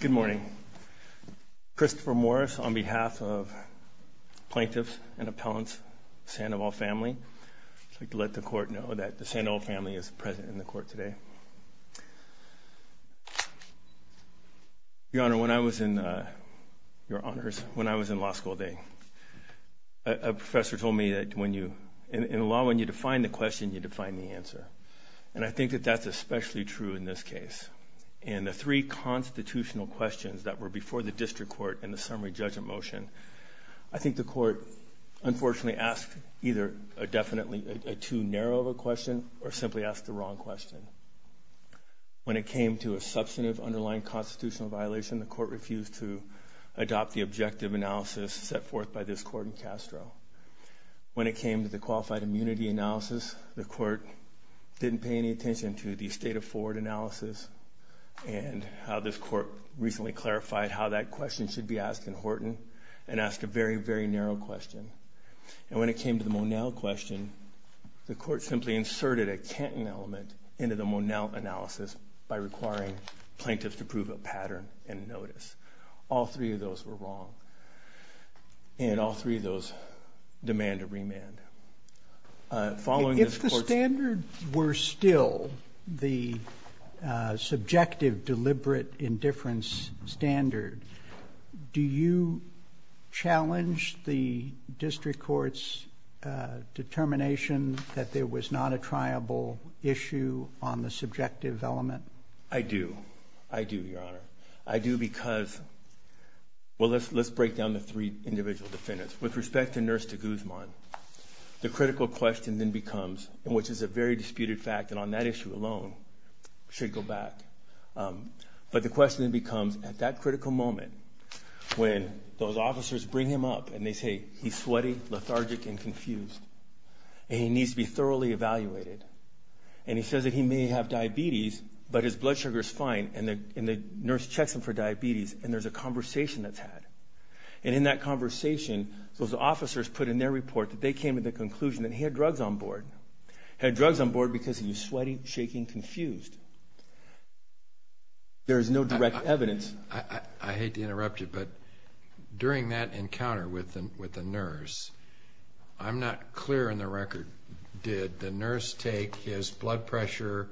Good morning. Christopher Morris on behalf of plaintiffs and appellants, Sandoval family. I'd like to let the court know that the Sandoval family is present in the court today. Your Honor, when I was in, your honors, when I was in law school a day, a professor told me that when you, in law, when you define the question, you define the answer. And I think that that's especially true in this case. And the three constitutional questions that were before the district court in the summary judgment motion, I think the court unfortunately asked either a definitely a too narrow of a question or simply asked the wrong question. When it came to a substantive underlying constitutional violation, the court refused to adopt the objective analysis set forth by this court in Castro. When it came to the qualified immunity analysis, the court didn't pay any attention to the state of forward analysis and how this court recently clarified how that question should be asked in Horton and asked a very, very narrow question. And when it came to the Monell question, the court simply inserted a Canton element into the Monell analysis by requiring plaintiffs to prove a pattern and notice. All three of those were wrong and all three of those demand a remand. If the standards were still the subjective deliberate indifference standard, do you challenge the district court's determination that there was not a triable issue on the subjective element? I do. I do, Your Honor. I do because, well, let's break down the three The critical question then becomes, which is a very disputed fact and on that issue alone should go back, but the question then becomes at that critical moment when those officers bring him up and they say he's sweaty, lethargic, and confused and he needs to be thoroughly evaluated and he says that he may have diabetes but his blood sugar is fine and the nurse checks him for diabetes and there's a conversation that's had. And in that conversation, those officers put in their report that they came to the conclusion that he had drugs on board. He had drugs on board because he was sweaty, shaking, confused. There is no direct evidence. I hate to interrupt you, but during that encounter with the nurse, I'm not clear in the record, did the nurse take his blood pressure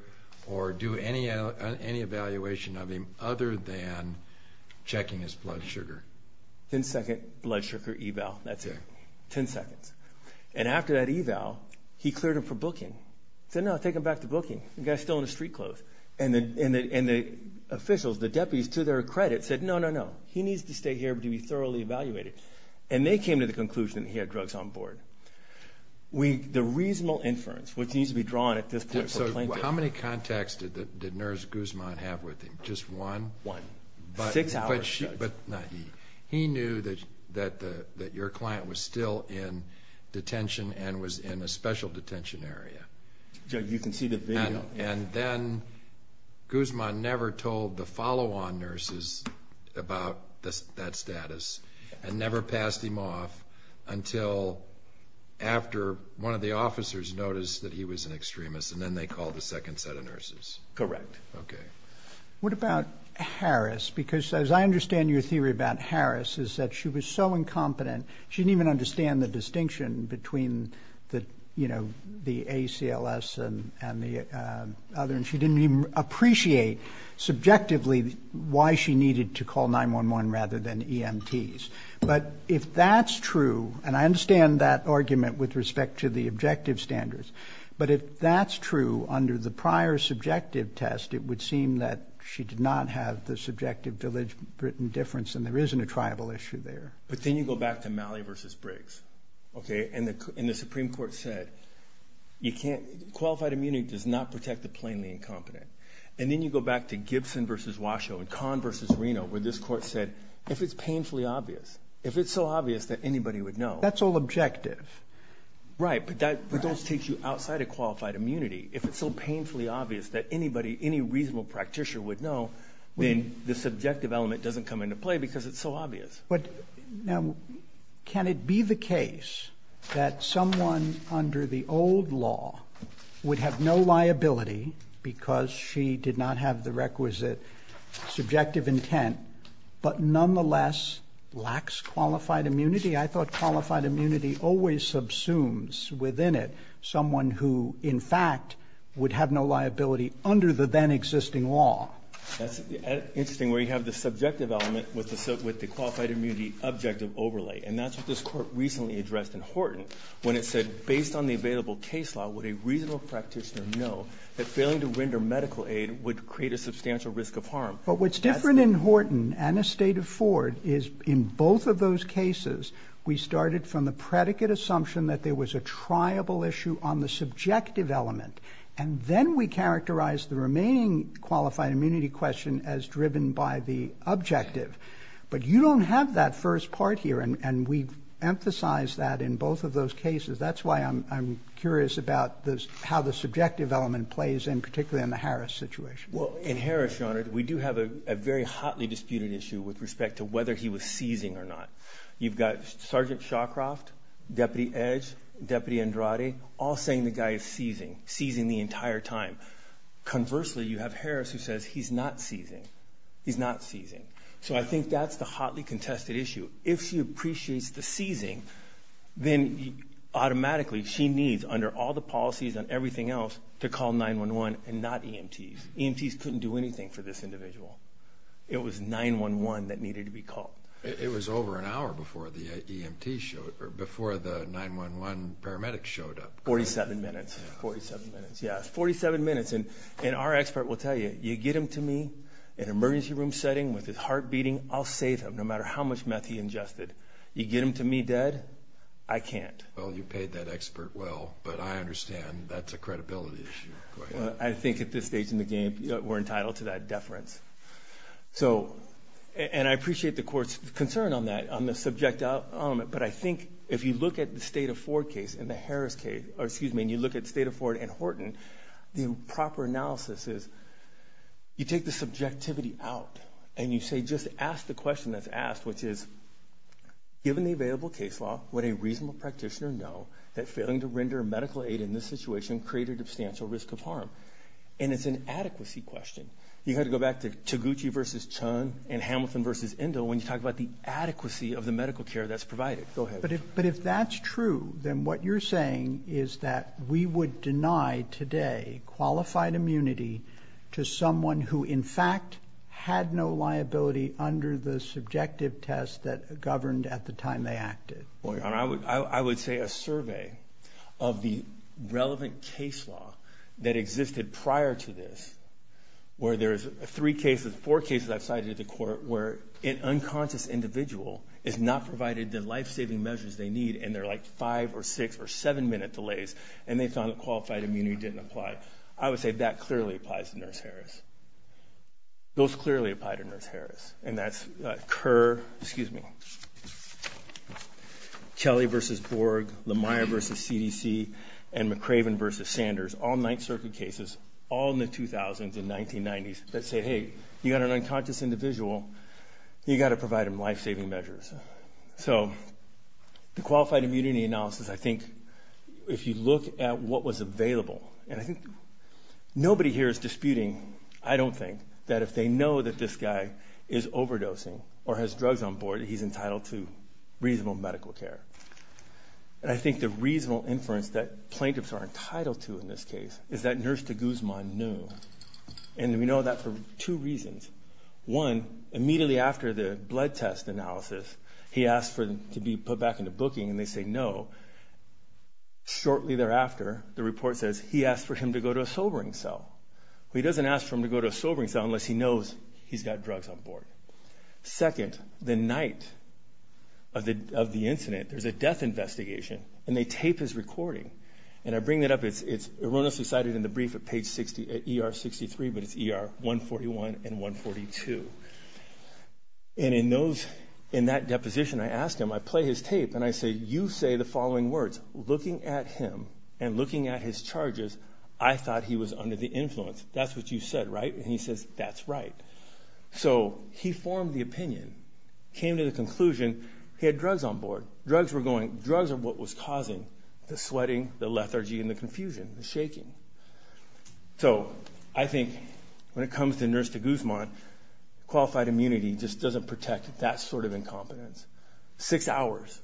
or do any evaluation of him other than checking his blood sugar? Ten second blood sugar eval, that's it. Ten seconds. And after that eval, he cleared him for booking. He said no, take him back to booking. The guy's still in his street clothes. And the officials, the deputies, to their credit said no, no, no. He needs to stay here to be thoroughly evaluated. And they came to the conclusion that he had drugs on board. The reasonable inference, which needs to be just one? One. Six hours, Judge. He knew that your client was still in detention and was in a special detention area. You can see the video. And then Guzman never told the follow-on nurses about that status and never passed him off until after one of the officers noticed that he was an extremist and then they called the second set of nurses. Correct. Okay. What about Harris? Because as I understand your theory about Harris is that she was so incompetent, she didn't even understand the distinction between the, you know, the ACLS and the other, and she didn't even appreciate subjectively why she needed to call 911 rather than EMTs. But if that's true, and I understand that argument with respect to the objective standards, but if that's true under the prior subjective test, it would seem that she did not have the subjective difference and there isn't a tribal issue there. But then you go back to Malley versus Briggs. Okay. And the, and the Supreme Court said, you can't, qualified immunity does not protect the plainly incompetent. And then you go back to Gibson versus Washoe and Conn versus Reno, where this court said, if it's painfully obvious, if it's so obvious that anybody would know. That's all objective. Right. But that, but those take you outside of qualified immunity. If it's so painfully obvious that anybody, any reasonable practitioner would know, then the subjective element doesn't come into play because it's so obvious. Now, can it be the case that someone under the old law would have no liability because she did not have the requisite subjective intent, but nonetheless lacks qualified immunity? I thought qualified immunity always subsumes within it someone who in fact would have no liability under the then existing law. That's interesting where you have the subjective element with the, with the qualified immunity objective overlay. And that's what this court recently addressed in Horton when it said, based on the available case law, would a reasonable practitioner know that failing to render medical aid would create a substantial risk of harm. But what's different in Horton and a state of Ford is in both of those cases, we started from the predicate assumption that there was a triable issue on the subjective element. And then we characterize the remaining qualified immunity question as driven by the objective. But you don't have that first part here. And we've emphasized that in both of the subjective element plays in particularly in the Harris situation. Well, in Harris, Your Honor, we do have a very hotly disputed issue with respect to whether he was seizing or not. You've got Sergeant Shawcroft, Deputy Edge, Deputy Andrade, all saying the guy is seizing, seizing the entire time. Conversely, you have Harris who says he's not seizing, he's not seizing. So I think that's the hotly contested issue. If she appreciates the seizing, then automatically she needs under all the policies and everything else to call 9-1-1 and not EMTs. EMTs couldn't do anything for this individual. It was 9-1-1 that needed to be called. It was over an hour before the EMT showed up, or before the 9-1-1 paramedics showed up. 47 minutes. 47 minutes, yes. 47 minutes. And our expert will tell you, you get him to me in an emergency room setting with his heart beating, I'll save him no matter how much meth he ingested. You get him to me dead, I can't. Well, you paid that expert well, but I understand that's a credibility issue. I think at this stage in the game, we're entitled to that deference. So, and I appreciate the court's concern on that, on the subject element, but I think if you look at the State of Ford case and the Harris case, or excuse me, and you look at State of Ford and Horton, the proper analysis is you take the subjectivity out and you say just ask the question that's given the available case law, would a reasonable practitioner know that failing to render medical aid in this situation created a substantial risk of harm? And it's an adequacy question. You have to go back to Taguchi v. Chun and Hamilton v. Indo when you talk about the adequacy of the medical care that's provided. Go ahead. But if that's true, then what you're saying is that we would deny today qualified immunity to someone who, in fact, had no liability under the subjective test that governed at the time they acted. Well, your honor, I would say a survey of the relevant case law that existed prior to this, where there's three cases, four cases I've cited at the court where an unconscious individual is not provided the life-saving measures they need and they're like five or six or seven minute delays and they found that qualified immunity didn't apply. I would say that clearly applies to Nurse Harris. Those clearly apply to Nurse Harris. And that's Kerr, excuse me, Kelly v. Borg, Lemire v. CDC, and McRaven v. Sanders, all Ninth Circuit cases, all in the 2000s and 1990s that say, hey, you got an unconscious individual, you got to provide them life-saving measures. So the qualified immunity analysis, I think, if you look at what was available, and I think nobody here is disputing, I don't think, that if they know that this guy is overdosing or has drugs on board, he's entitled to reasonable medical care. And I think the reasonable inference that plaintiffs are entitled to in this case is that Nurse de Guzman knew. And we know that for two reasons. One, immediately after the blood test analysis, he asked for him to be put back into booking and they say no. Shortly thereafter, the report says he asked for him to go to a sobering cell. He doesn't ask for him to go to a sobering cell unless he knows he's got drugs on board. Second, the night of the incident, there's a death investigation, and they tape his recording. And I bring that up, it's erroneously cited in the brief at ER 63, but it's ER 141 and 142. And in those, in that deposition, I ask him, I play his tape, and I say, you say the I thought he was under the influence. That's what you said, right? And he says that's right. So he formed the opinion, came to the conclusion he had drugs on board. Drugs were going, drugs are what was causing the sweating, the lethargy, and the confusion, the shaking. So I think when it comes to Nurse de Guzman, qualified immunity just doesn't protect that sort of incompetence. Six hours,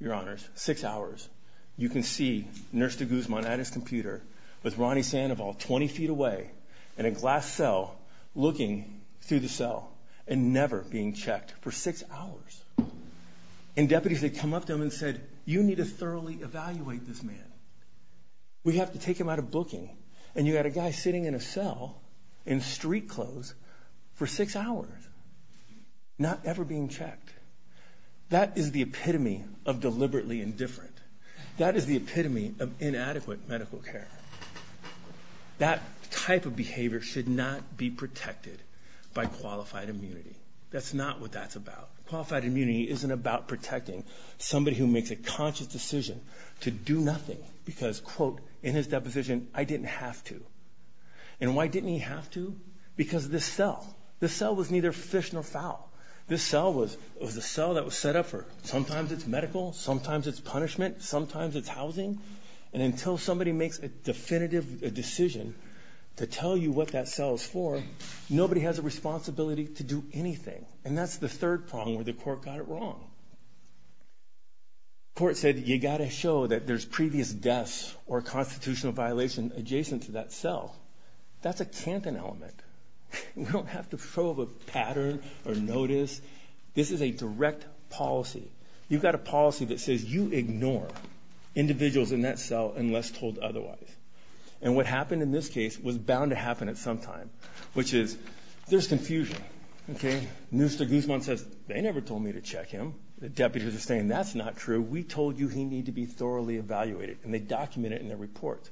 your honors, six hours, you can see Nurse de Guzman at his computer with Ronnie Sandoval 20 feet away in a glass cell looking through the cell and never being checked for six hours. And deputies had come up to him and said, you need to thoroughly evaluate this man. We have to take him out of booking. And you had a guy sitting in a cell in street clothes for six hours, not ever being checked. That is the epitome of deliberately indifferent. That is the epitome of inadequate medical care. That type of behavior should not be protected by qualified immunity. That's not what that's about. Qualified immunity isn't about protecting somebody who makes a conscious decision to do nothing because, quote, in his deposition, I didn't have to. And why was the cell that was set up for? Sometimes it's medical, sometimes it's punishment, sometimes it's housing. And until somebody makes a definitive decision to tell you what that cell is for, nobody has a responsibility to do anything. And that's the third prong where the court got it wrong. The court said, you got to show that there's previous deaths or constitutional violation adjacent to that cell. That's a Canton element. You don't have to show a pattern or notice. This is a direct policy. You've got a policy that says you ignore individuals in that cell unless told otherwise. And what happened in this case was bound to happen at some time, which is there's confusion. Okay? Mr. Guzman says, they never told me to check him. The deputies are saying, that's not true. We told you he need to be thoroughly evaluated. And they document it in their report.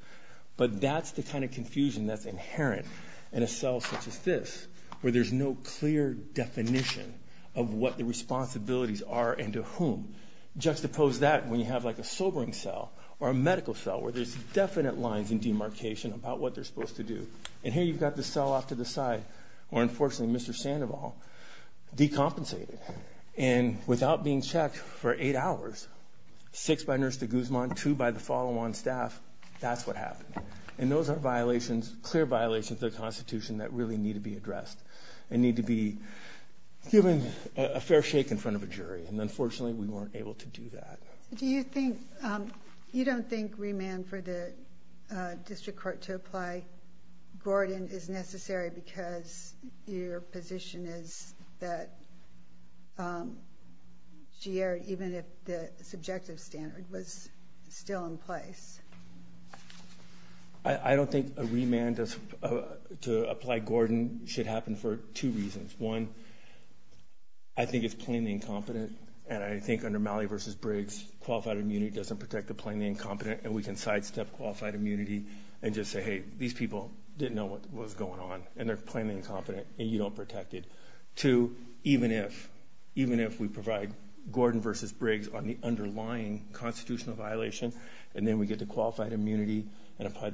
But that's the kind of confusion that's inherent in a cell such as this, where there's no clear definition of what the responsibilities are and to whom. Juxtapose that when you have like a sobering cell or a medical cell where there's definite lines and demarcation about what they're supposed to do. And here you've got the cell off to the side, where unfortunately Mr. Sandoval decompensated. And without being checked for eight hours, six by Nurse de Guzman, two by the follow-on staff, that's what happened. And those are violations, clear violations of the Constitution that really need to be addressed and need to be given a fair shake in front of a jury. And unfortunately we weren't able to do that. Do you think, you don't think remand for the District Court to apply Gordon is necessary because your position is that GR, even if the subjective standard was still in place? I don't think a remand to apply Gordon should happen for two reasons. One, I think it's plainly incompetent. And I think under Malley v. Briggs, qualified immunity doesn't protect the plainly incompetent. And we can sidestep qualified immunity and just say, hey, these people didn't know what was going on. And they're plainly incompetent and you don't protect it. Two, even if, even if we provide Gordon v. Briggs on the underlying constitutional violation and then we get the qualified immunity and apply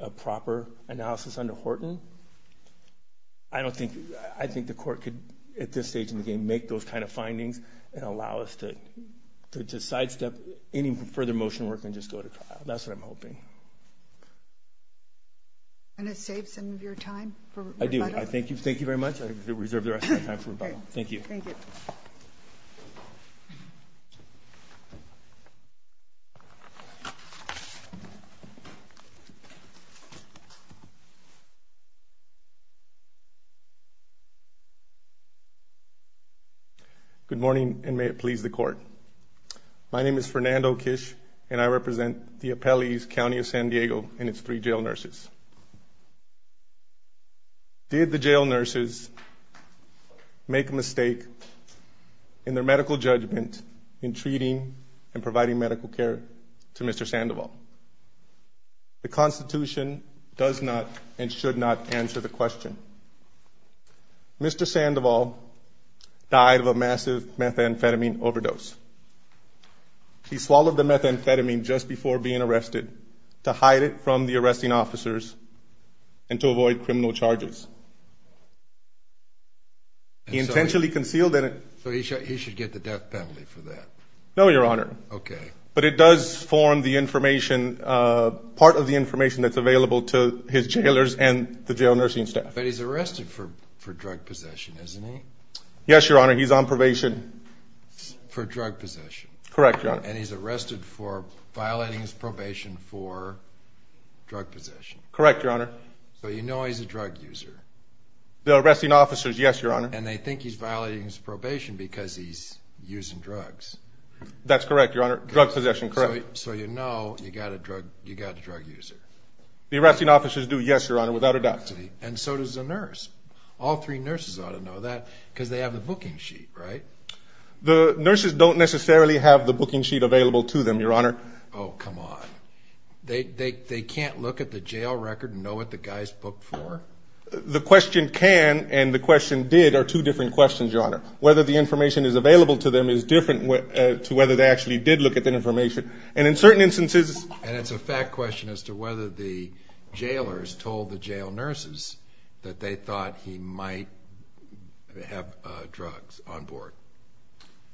a proper analysis under Horton, I don't think, I think the court could at this stage in the game make those kind of findings and allow us to sidestep any further motion work and just go to trial. That's what I'm hoping. And it saves some of your time. I do. I thank you. Thank you very much. I reserve the rest of my time for rebuttal. Thank you. Thank you. Good morning and may it please the court. My name is Fernando Kish and I represent the District of Columbia. Did the jail nurses make a mistake in their medical judgment in treating and providing medical care to Mr. Sandoval? The Constitution does not and should not answer the question. Mr. Sandoval died of a massive methamphetamine overdose. He swallowed the methamphetamine just before being arrested to hide it from the arresting officers and to avoid criminal charges. He intentionally concealed it. So he should get the death penalty for that? No, Your Honor. Okay. But it does form the information, part of the information that's available to his jailers and the jail nursing staff. But he's arrested for drug possession, isn't he? Yes, Your Honor. He's on probation. For drug possession? Correct, Your Honor. And he's arrested for violating his probation for drug possession? Correct, Your Honor. So you know he's a drug user? The arresting officers, yes, Your Honor. And they think he's violating his probation because he's using drugs? That's correct, Your Honor. Drug possession, correct. So you know you got a drug user? The arresting officers do, yes, Your Honor, without a doubt. And so does the nurse. All three nurses ought to know that because they have the booking sheet, right? The nurses don't necessarily have the booking sheet available to them, Your Honor. Oh, come on. They can't look at the jail record and know what the guy's booked for? The question can and the question did are two different questions, Your Honor. Whether the information is available to them is different to whether they actually did look at the information. And in certain instances... And it's a fact question as to whether the jailers told the jail nurses that they thought he might have drugs on board.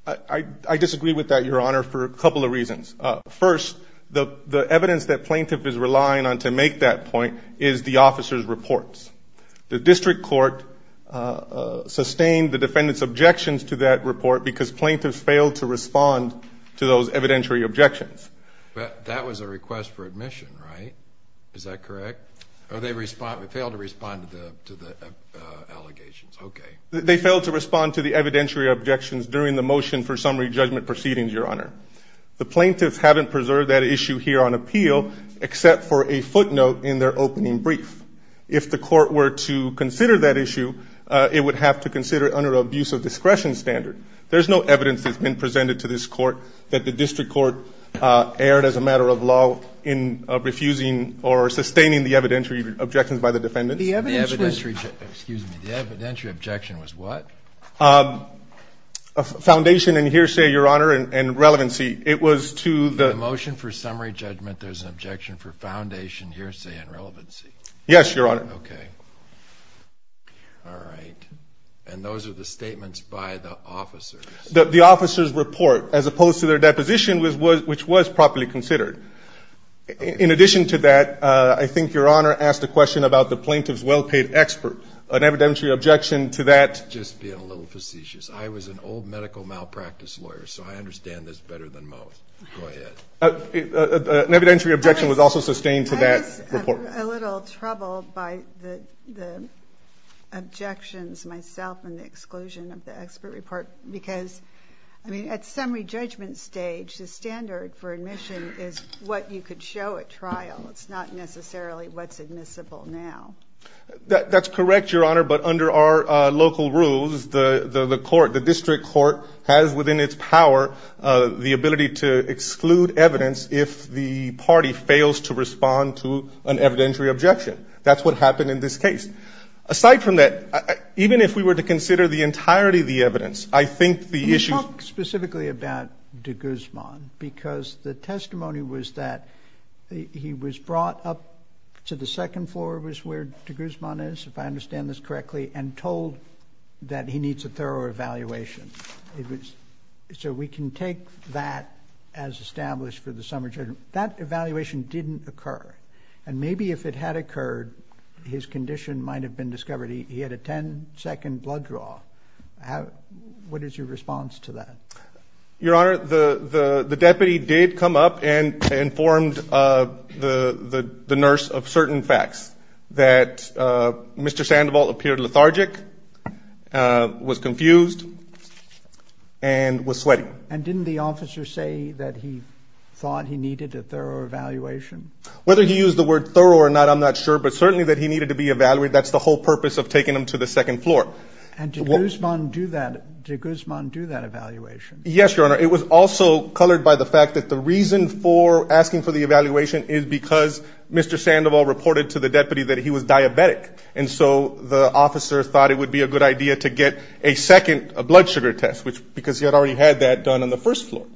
I disagree with that, Your Honor, for a couple of reasons. First, the evidence that plaintiff is relying on to make that point is the officer's reports. The district court sustained the defendant's objections to that report because plaintiffs failed to respond to the allegations. They failed to respond to the evidentiary objections during the motion for summary judgment proceedings, Your Honor. The plaintiffs haven't preserved that issue here on appeal except for a footnote in their opening brief. If the court were to consider that issue, it would have to consider it under an abuse of discretion standard. There's no evidence that's been presented to this court that the district court erred as a matter of law in refusing or sustaining the evidentiary objections by the defendants. The evidentiary... The evidentiary... Excuse me. The evidentiary objection was what? Foundation and hearsay, Your Honor, and relevancy. It was to the... The motion for summary judgment there's an objection for foundation, hearsay, and relevancy. Yes, Your Honor. Okay. All right. And those are the statements by the officers. The officer's report, as opposed to their report, should be considered. In addition to that, I think Your Honor asked a question about the plaintiff's well-paid expert. An evidentiary objection to that... Just being a little facetious. I was an old medical malpractice lawyer, so I understand this better than most. Go ahead. An evidentiary objection was also sustained to that report. I was a little troubled by the objections myself and the exclusion of the expert report because, I mean, at summary judgment stage, the standard for admission is what you could show at trial. It's not necessarily what's admissible now. That's correct, Your Honor, but under our local rules, the court, the district court, has within its power the ability to exclude evidence if the party fails to respond to an evidentiary objection. That's what happened in this case. Aside from that, even if we were to consider the entirety of the evidence, I think the plaintiff's report should be considered. I think the plaintiff's report should be considered. The testimony was that he was brought up to the second floor, is where de Guzman is, if I understand this correctly, and told that he needs a thorough evaluation. So we can take that as established for the summary judgment. That evaluation didn't occur. Maybe if it had occurred, his condition might have been discovered. He had a 10-second blood draw. What is your response to that? Your Honor, the deputy did come up and informed the nurse of certain facts, that Mr. Sandoval appeared lethargic, was confused, and was sweating. And didn't the officer say that he thought he needed a thorough evaluation? Whether he used the word thorough or not, I'm not sure, but certainly that he needed to be evaluated. That's the whole purpose of taking him to the second floor. And did Guzman do that evaluation? Yes, Your Honor. It was also colored by the fact that the reason for asking for the evaluation is because Mr. Sandoval reported to the deputy that he was diabetic. And so the officer thought it would be a good idea to get a second blood sugar test, because he had already had that done on the first floor.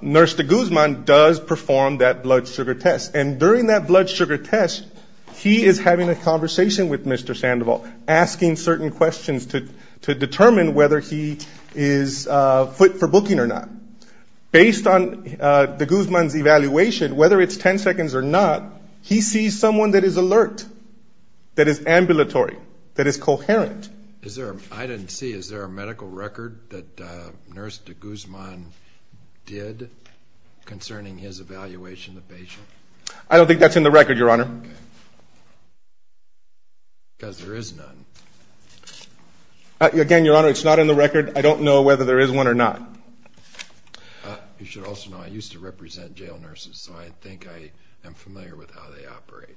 Nurse de Guzman does perform that blood sugar test. And during that blood sugar test, he is having a conversation with Mr. Sandoval, asking certain questions to determine whether he is fit for booking or not. Based on de Guzman's evaluation, whether it's 10 seconds or not, he sees someone that is alert, that is ambulatory, that is coherent. I didn't see. Is there a medical record that Nurse de Guzman did concerning his evaluation of the patient? I don't think that's in the record, Your Honor. Because there is none. Again, Your Honor, it's not in the record. I don't know whether there is one or not. You should also know I used to represent jail nurses, so I think I am familiar with how they operate.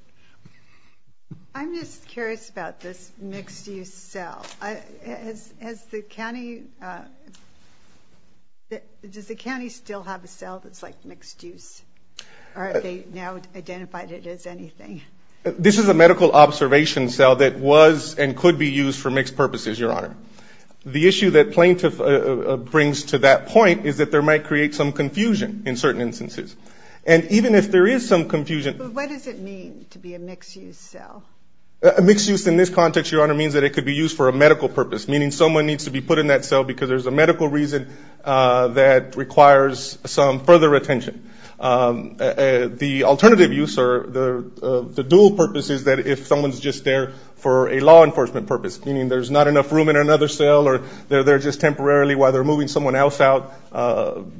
I'm just curious about this mixed-use cell. Does the county still have a cell that's like this? This is a medical observation cell that was and could be used for mixed purposes, Your Honor. The issue that plaintiff brings to that point is that there might create some confusion in certain instances. And even if there is some confusion... But what does it mean to be a mixed-use cell? A mixed-use in this context, Your Honor, means that it could be used for a medical purpose. Meaning someone needs to be put in that cell because there is a medical reason that requires some further attention. The alternative use or the dual purpose is that if someone is just there for a law enforcement purpose, meaning there's not enough room in another cell or they're there just temporarily while they're moving someone else out,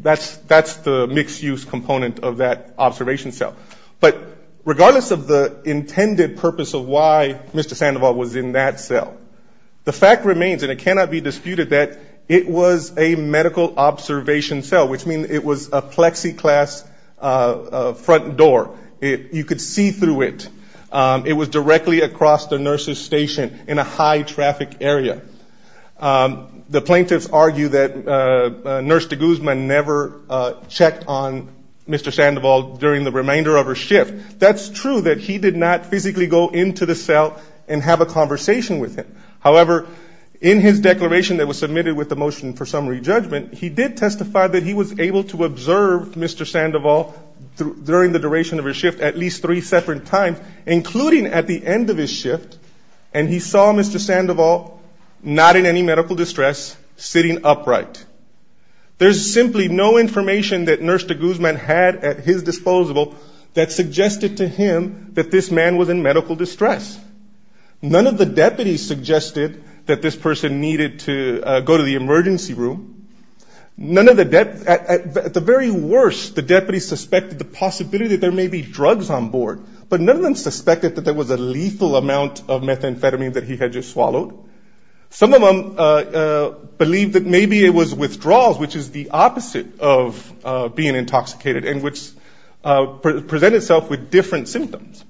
that's the mixed-use component of that observation cell. But regardless of the intended purpose of why Mr. Sandoval was in that cell, the fact remains, and it cannot be disputed, that it was a medical observation cell, which means it was a plexiglass front door. You could see through it. It was directly across the nurse's station in a high-traffic area. The plaintiffs argue that Nurse de Guzman never checked on Mr. Sandoval during the remainder of her shift. That's true, that he did not physically go into the cell and have a conversation with him. However, in his declaration that was submitted with the motion for summary judgment, he did testify that he was able to observe Mr. Sandoval during the duration of his shift at least three separate times, including at the end of his shift, and he saw Mr. Sandoval not in any medical distress, sitting upright. There's simply no information that Nurse de Guzman had at his disposable that suggested to him that this man was in medical distress. None of the deputies suggested that this person needed to go to the emergency room. At the very worst, the deputies suspected the possibility that there may be drugs on board, but none of them suspected that there was a lethal amount of methamphetamine that he had just swallowed. Some of them believed that maybe it was withdrawals, which is the opposite of being intoxicated, and which present itself with different symptoms.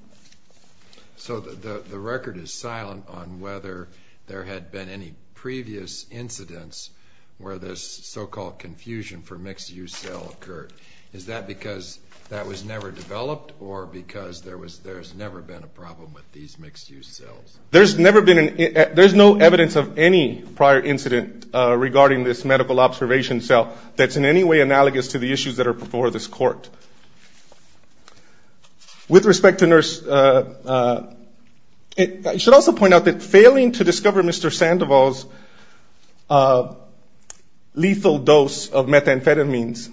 So the record is silent on whether there had been any previous incidents where this so-called confusion for mixed-use cell occurred. Is that because that was never developed, or because there's never been a problem with these mixed-use cells? There's no evidence of any prior incident regarding this medical observation cell that's in any way analogous to the issues that are before this Court. With respect to Nurse... I should also point out that failing to discover Mr. Sandoval's lethal dose of methamphetamines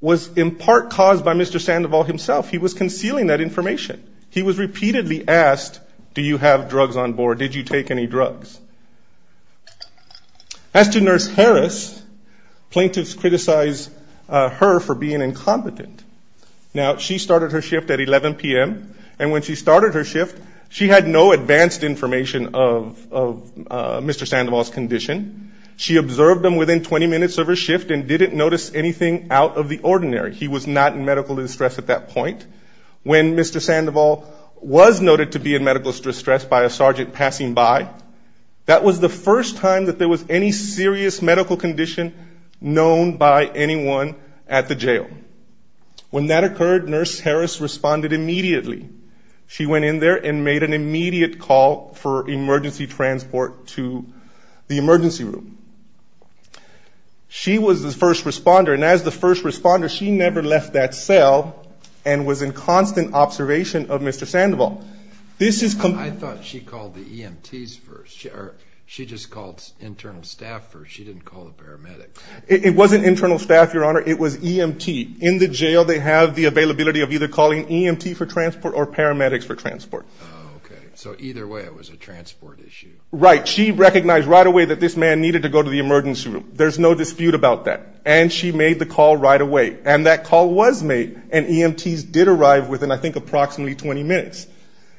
was in part caused by Mr. Sandoval himself. He was concealing that information. He was repeatedly asked, do you have drugs on board? Did you take any drugs? As to Nurse Harris, plaintiffs criticized her for being incompetent. Now, she started her shift at 11 p.m., and when she started her shift, she had no advanced information of Mr. Sandoval's condition. She observed him within 20 minutes of her shift and didn't notice anything out of the ordinary. He was not in medical distress at that point. When Mr. Sandoval was noted to be in medical distress by a sergeant passing by, that was the first time that there was any serious medical condition known by anyone at the jail. When that occurred, Nurse Harris responded immediately. She went in there and made an immediate call for emergency transport to the emergency room. She was the first responder, and as the first responder, she never left that cell and was in constant observation of Mr. Sandoval. I thought she called the EMTs first. She just called internal staff first. She didn't call the paramedics. It wasn't internal staff, Your Honor. It was EMT. In the jail, they have the availability of either calling EMT for transport or paramedics for transport. Oh, okay. So either way, it was a transport issue. Right. She recognized right away that this man needed to go to the emergency room. There's no dispute about that, and she made the call right away. And that call was made, and EMTs did arrive within, I think, approximately 20 minutes.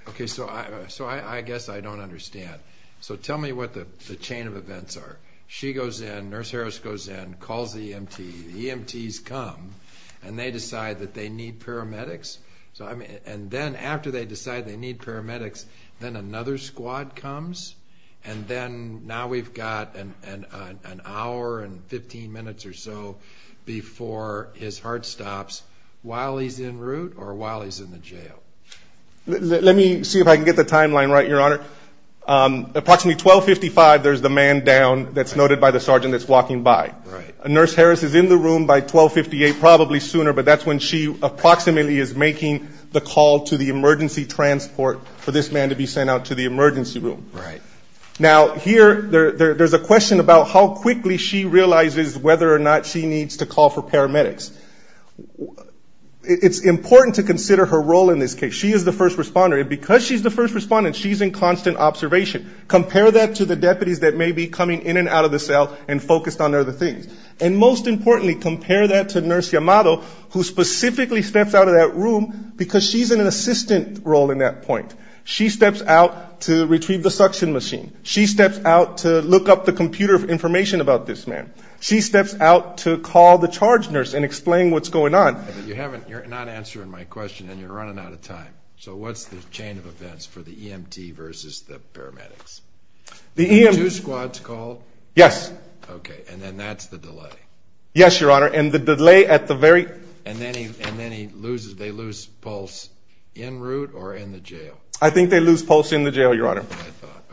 Okay, so I guess I don't understand. So tell me what the chain of events are. She goes in, Nurse Harris goes in, calls the EMT, the EMTs come, and they decide that they need paramedics? And then after they decide they need paramedics, then another squad comes? And then now we've got an hour and 15 minutes or so before his heart stops, while he's en route or while he's in the jail? Let me see if I can get the timeline right, Your Honor. Approximately 1255, there's the man down that's noted by the sergeant that's walking by. Nurse Harris is in the room by 1258, probably sooner, but that's when she approximately is making the call to the emergency transport for this man to be sent out to the emergency room. Now here, there's a question about how quickly she realizes whether or not she needs to call for paramedics. It's important to consider her role in this case. She is the first responder, and because she's the first responder, she's in constant observation. Compare that to the deputies that may be coming in and out of the cell and focused on other things. And most importantly, compare that to Nurse Yamato, who specifically steps out of that room because she's in an assistant role in that point. She steps out to retrieve the suction machine. She steps out to look up the computer information about this man. She steps out to call the charge nurse and explain what's going on. You're not answering my question, and you're running out of time. So what's the chain of events for the EMT versus the paramedics? Do two squads call? Yes. Okay, and then that's the delay? Yes, Your Honor, and the delay at the very... And then they lose pulse en route or in the jail? I think they lose pulse in the jail, Your Honor.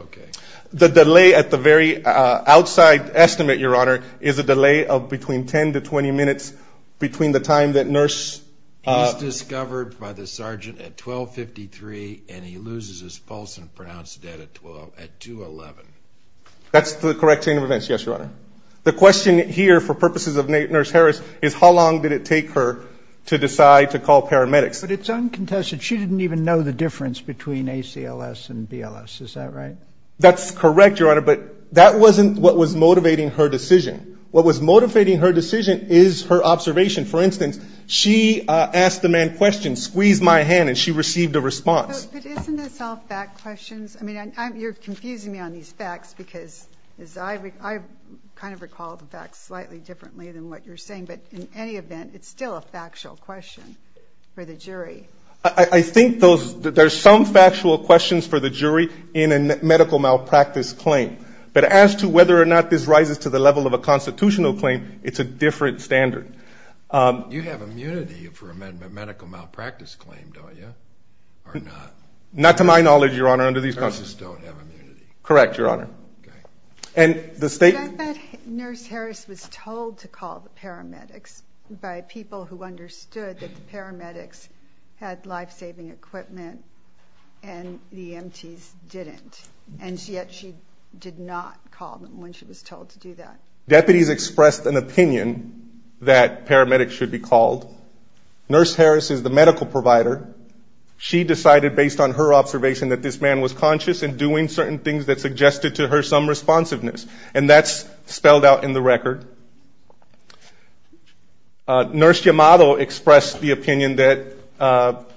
Okay. The delay at the very outside estimate, Your Honor, is a delay of between 10 to 20 minutes between the time that nurse... He's discovered by the sergeant at 1253, and he loses his pulse and pronounced dead at 211. That's the correct chain of events, yes, Your Honor. The question here, for purposes of Nurse Harris, is how long did it take her to decide to call paramedics? But it's uncontested. She didn't even know the difference between ACLS and BLS. Is that right? That's correct, Your Honor, but that wasn't what was motivating her decision. What was motivating her decision is her observation. For instance, she asked the man questions, squeezed my hand, and she received a response. But isn't this all fact questions? I mean, you're confusing me on these facts because I kind of recall the facts slightly differently than what you're saying, but in any event, it's still a factual question for the jury. I think those... There's some factual questions for the jury in a medical malpractice claim, but as to whether or not this rises to the level of a constitutional claim, it's a different standard. You have immunity for a medical malpractice claim, don't you? Or not? Not to my knowledge, Your Honor, under these... You just don't have immunity. Correct, Your Honor. And the state... I thought Nurse Harris was told to call the paramedics by people who understood that the paramedics had life-saving equipment and the EMTs didn't, and yet she did not call them when she was told to do that. Deputies expressed an opinion that paramedics should be called. Nurse Harris is the medical provider. She decided, based on her observation, that this man was conscious and doing certain things that suggested to her some responsiveness, and that's spelled out in the record. Nurse Yamato expressed the opinion that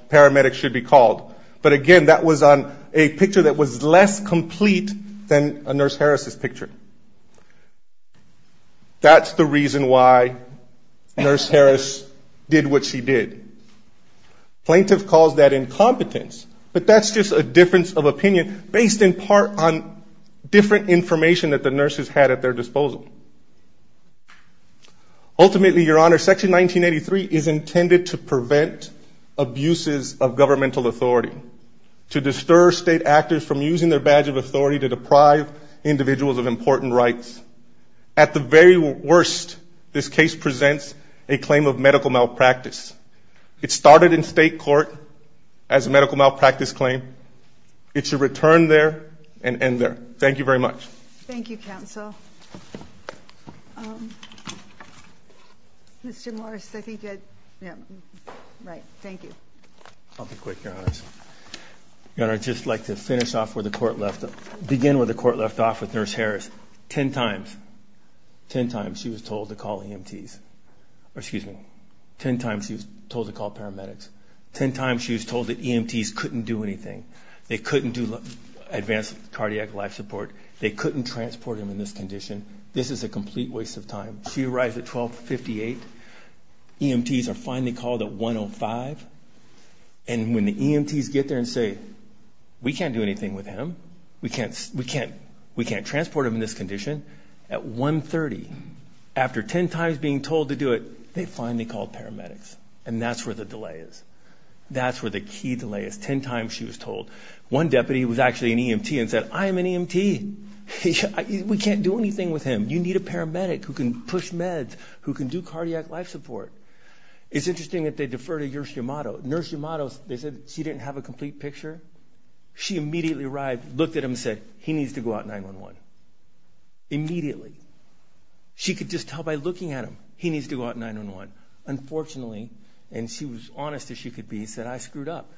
paramedics should be called, but again, that was on a picture that was less complete than a Nurse Harris's picture. That's the reason why Nurse Harris did what she did. Plaintiff calls that incompetence, but that's just a difference of opinion based in part on different information that the nurses had at their disposal. Ultimately, Your Honor, Section 1983 is intended to prevent abuses of governmental authority, to disturb state actors from using their badge of authority to deprive individuals of important rights. At the very worst, this case presents a claim of medical malpractice. It started in state court as a medical malpractice claim. It should return there and end there. Thank you very much. Thank you, Counsel. Mr. Morris, I think you had... Right, thank you. I'll be quick, Your Honor. Your Honor, I'd just like to begin where the court left off with Nurse Harris. Ten times she was told to call paramedics. Ten times she was told that EMTs couldn't do anything. They couldn't do advanced cardiac life support. They couldn't transport him in this condition. This is a complete waste of time. She arrives at 1258. EMTs are finally called at 105. And when the EMTs get there and say, we can't do anything with him. We can't transport him in this condition. At 130, after ten times being told to do it, they finally call paramedics. And that's where the delay is. They call an EMT and say, I am an EMT. We can't do anything with him. You need a paramedic who can push meds, who can do cardiac life support. It's interesting that they defer to Nurse Yamato. Nurse Yamato, they said she didn't have a complete picture. She immediately arrived, looked at him and said, he needs to go out 911. Immediately. She could just tell by looking at him, he needs to go out 911. Unfortunately, and she was honest as she could be, she said, I screwed up.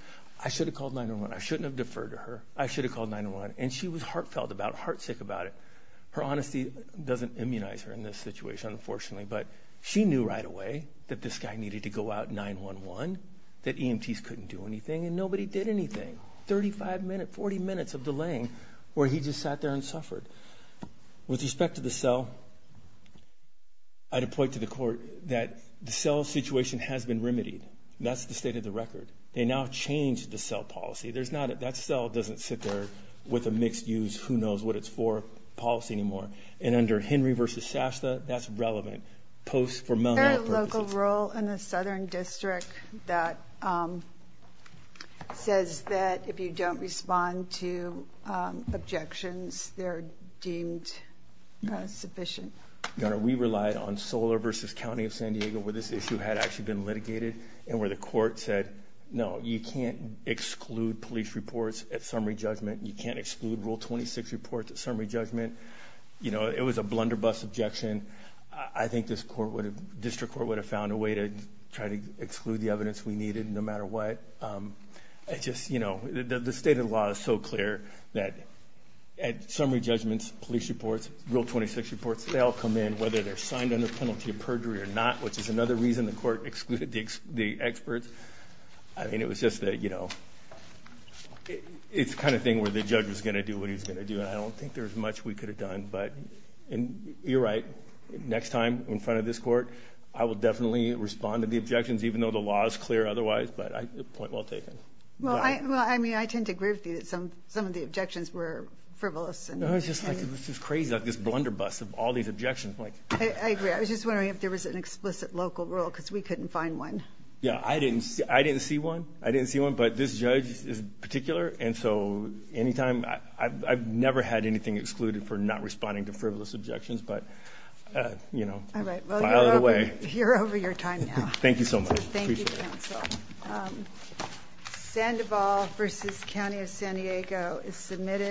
I should have called 911. I shouldn't have deferred to her. I should have called 911. And she was heartfelt about it, heart sick about it. Her honesty doesn't immunize her in this situation, unfortunately. But she knew right away that this guy needed to go out 911, that EMTs couldn't do anything about it. Well, I'd point to the court that the cell situation has been remedied. That's the state of the record. They now change the cell policy. That cell doesn't sit there with a mixed use, who knows what it's for, policy anymore. And under Henry versus Shasta, that's relevant. Post for mental health purposes. Is there a local rule in the Southern District that says that if you don't respond to objections, they're deemed sufficient? We relied on solar versus County of San Diego where this issue had actually been litigated and where the court said, no, you can't exclude police reports at summary judgment. You can't exclude rule 26 reports at summary judgment. It was a blunderbuss objection. I think district court would have found a way to try to exclude the evidence we needed no matter what. The state of the law is so clear that at summary judgments, police reports, rule 26 reports, they all come in, whether they're signed under penalty of perjury or not, which is another reason the court excluded the experts. It was just the kind of thing where the judge was going to do what he was going to do. I don't think there's much we could have done. You're right. Next time in front of this court, I will definitely respond to the objections even though the law is clear otherwise, but point well taken. I tend to agree with you that some of the objections were frivolous. It was just crazy like this blunderbuss of all these objections. I agree. I was just wondering if there was an explicit local rule because we couldn't find one. I didn't see one. I didn't see one, but this judge is particular. I've never had anything excluded for not responding to frivolous objections. You're over your time now. Thank you so much. Thank you, counsel. Sandoval v. County of San Diego is submitted for comment.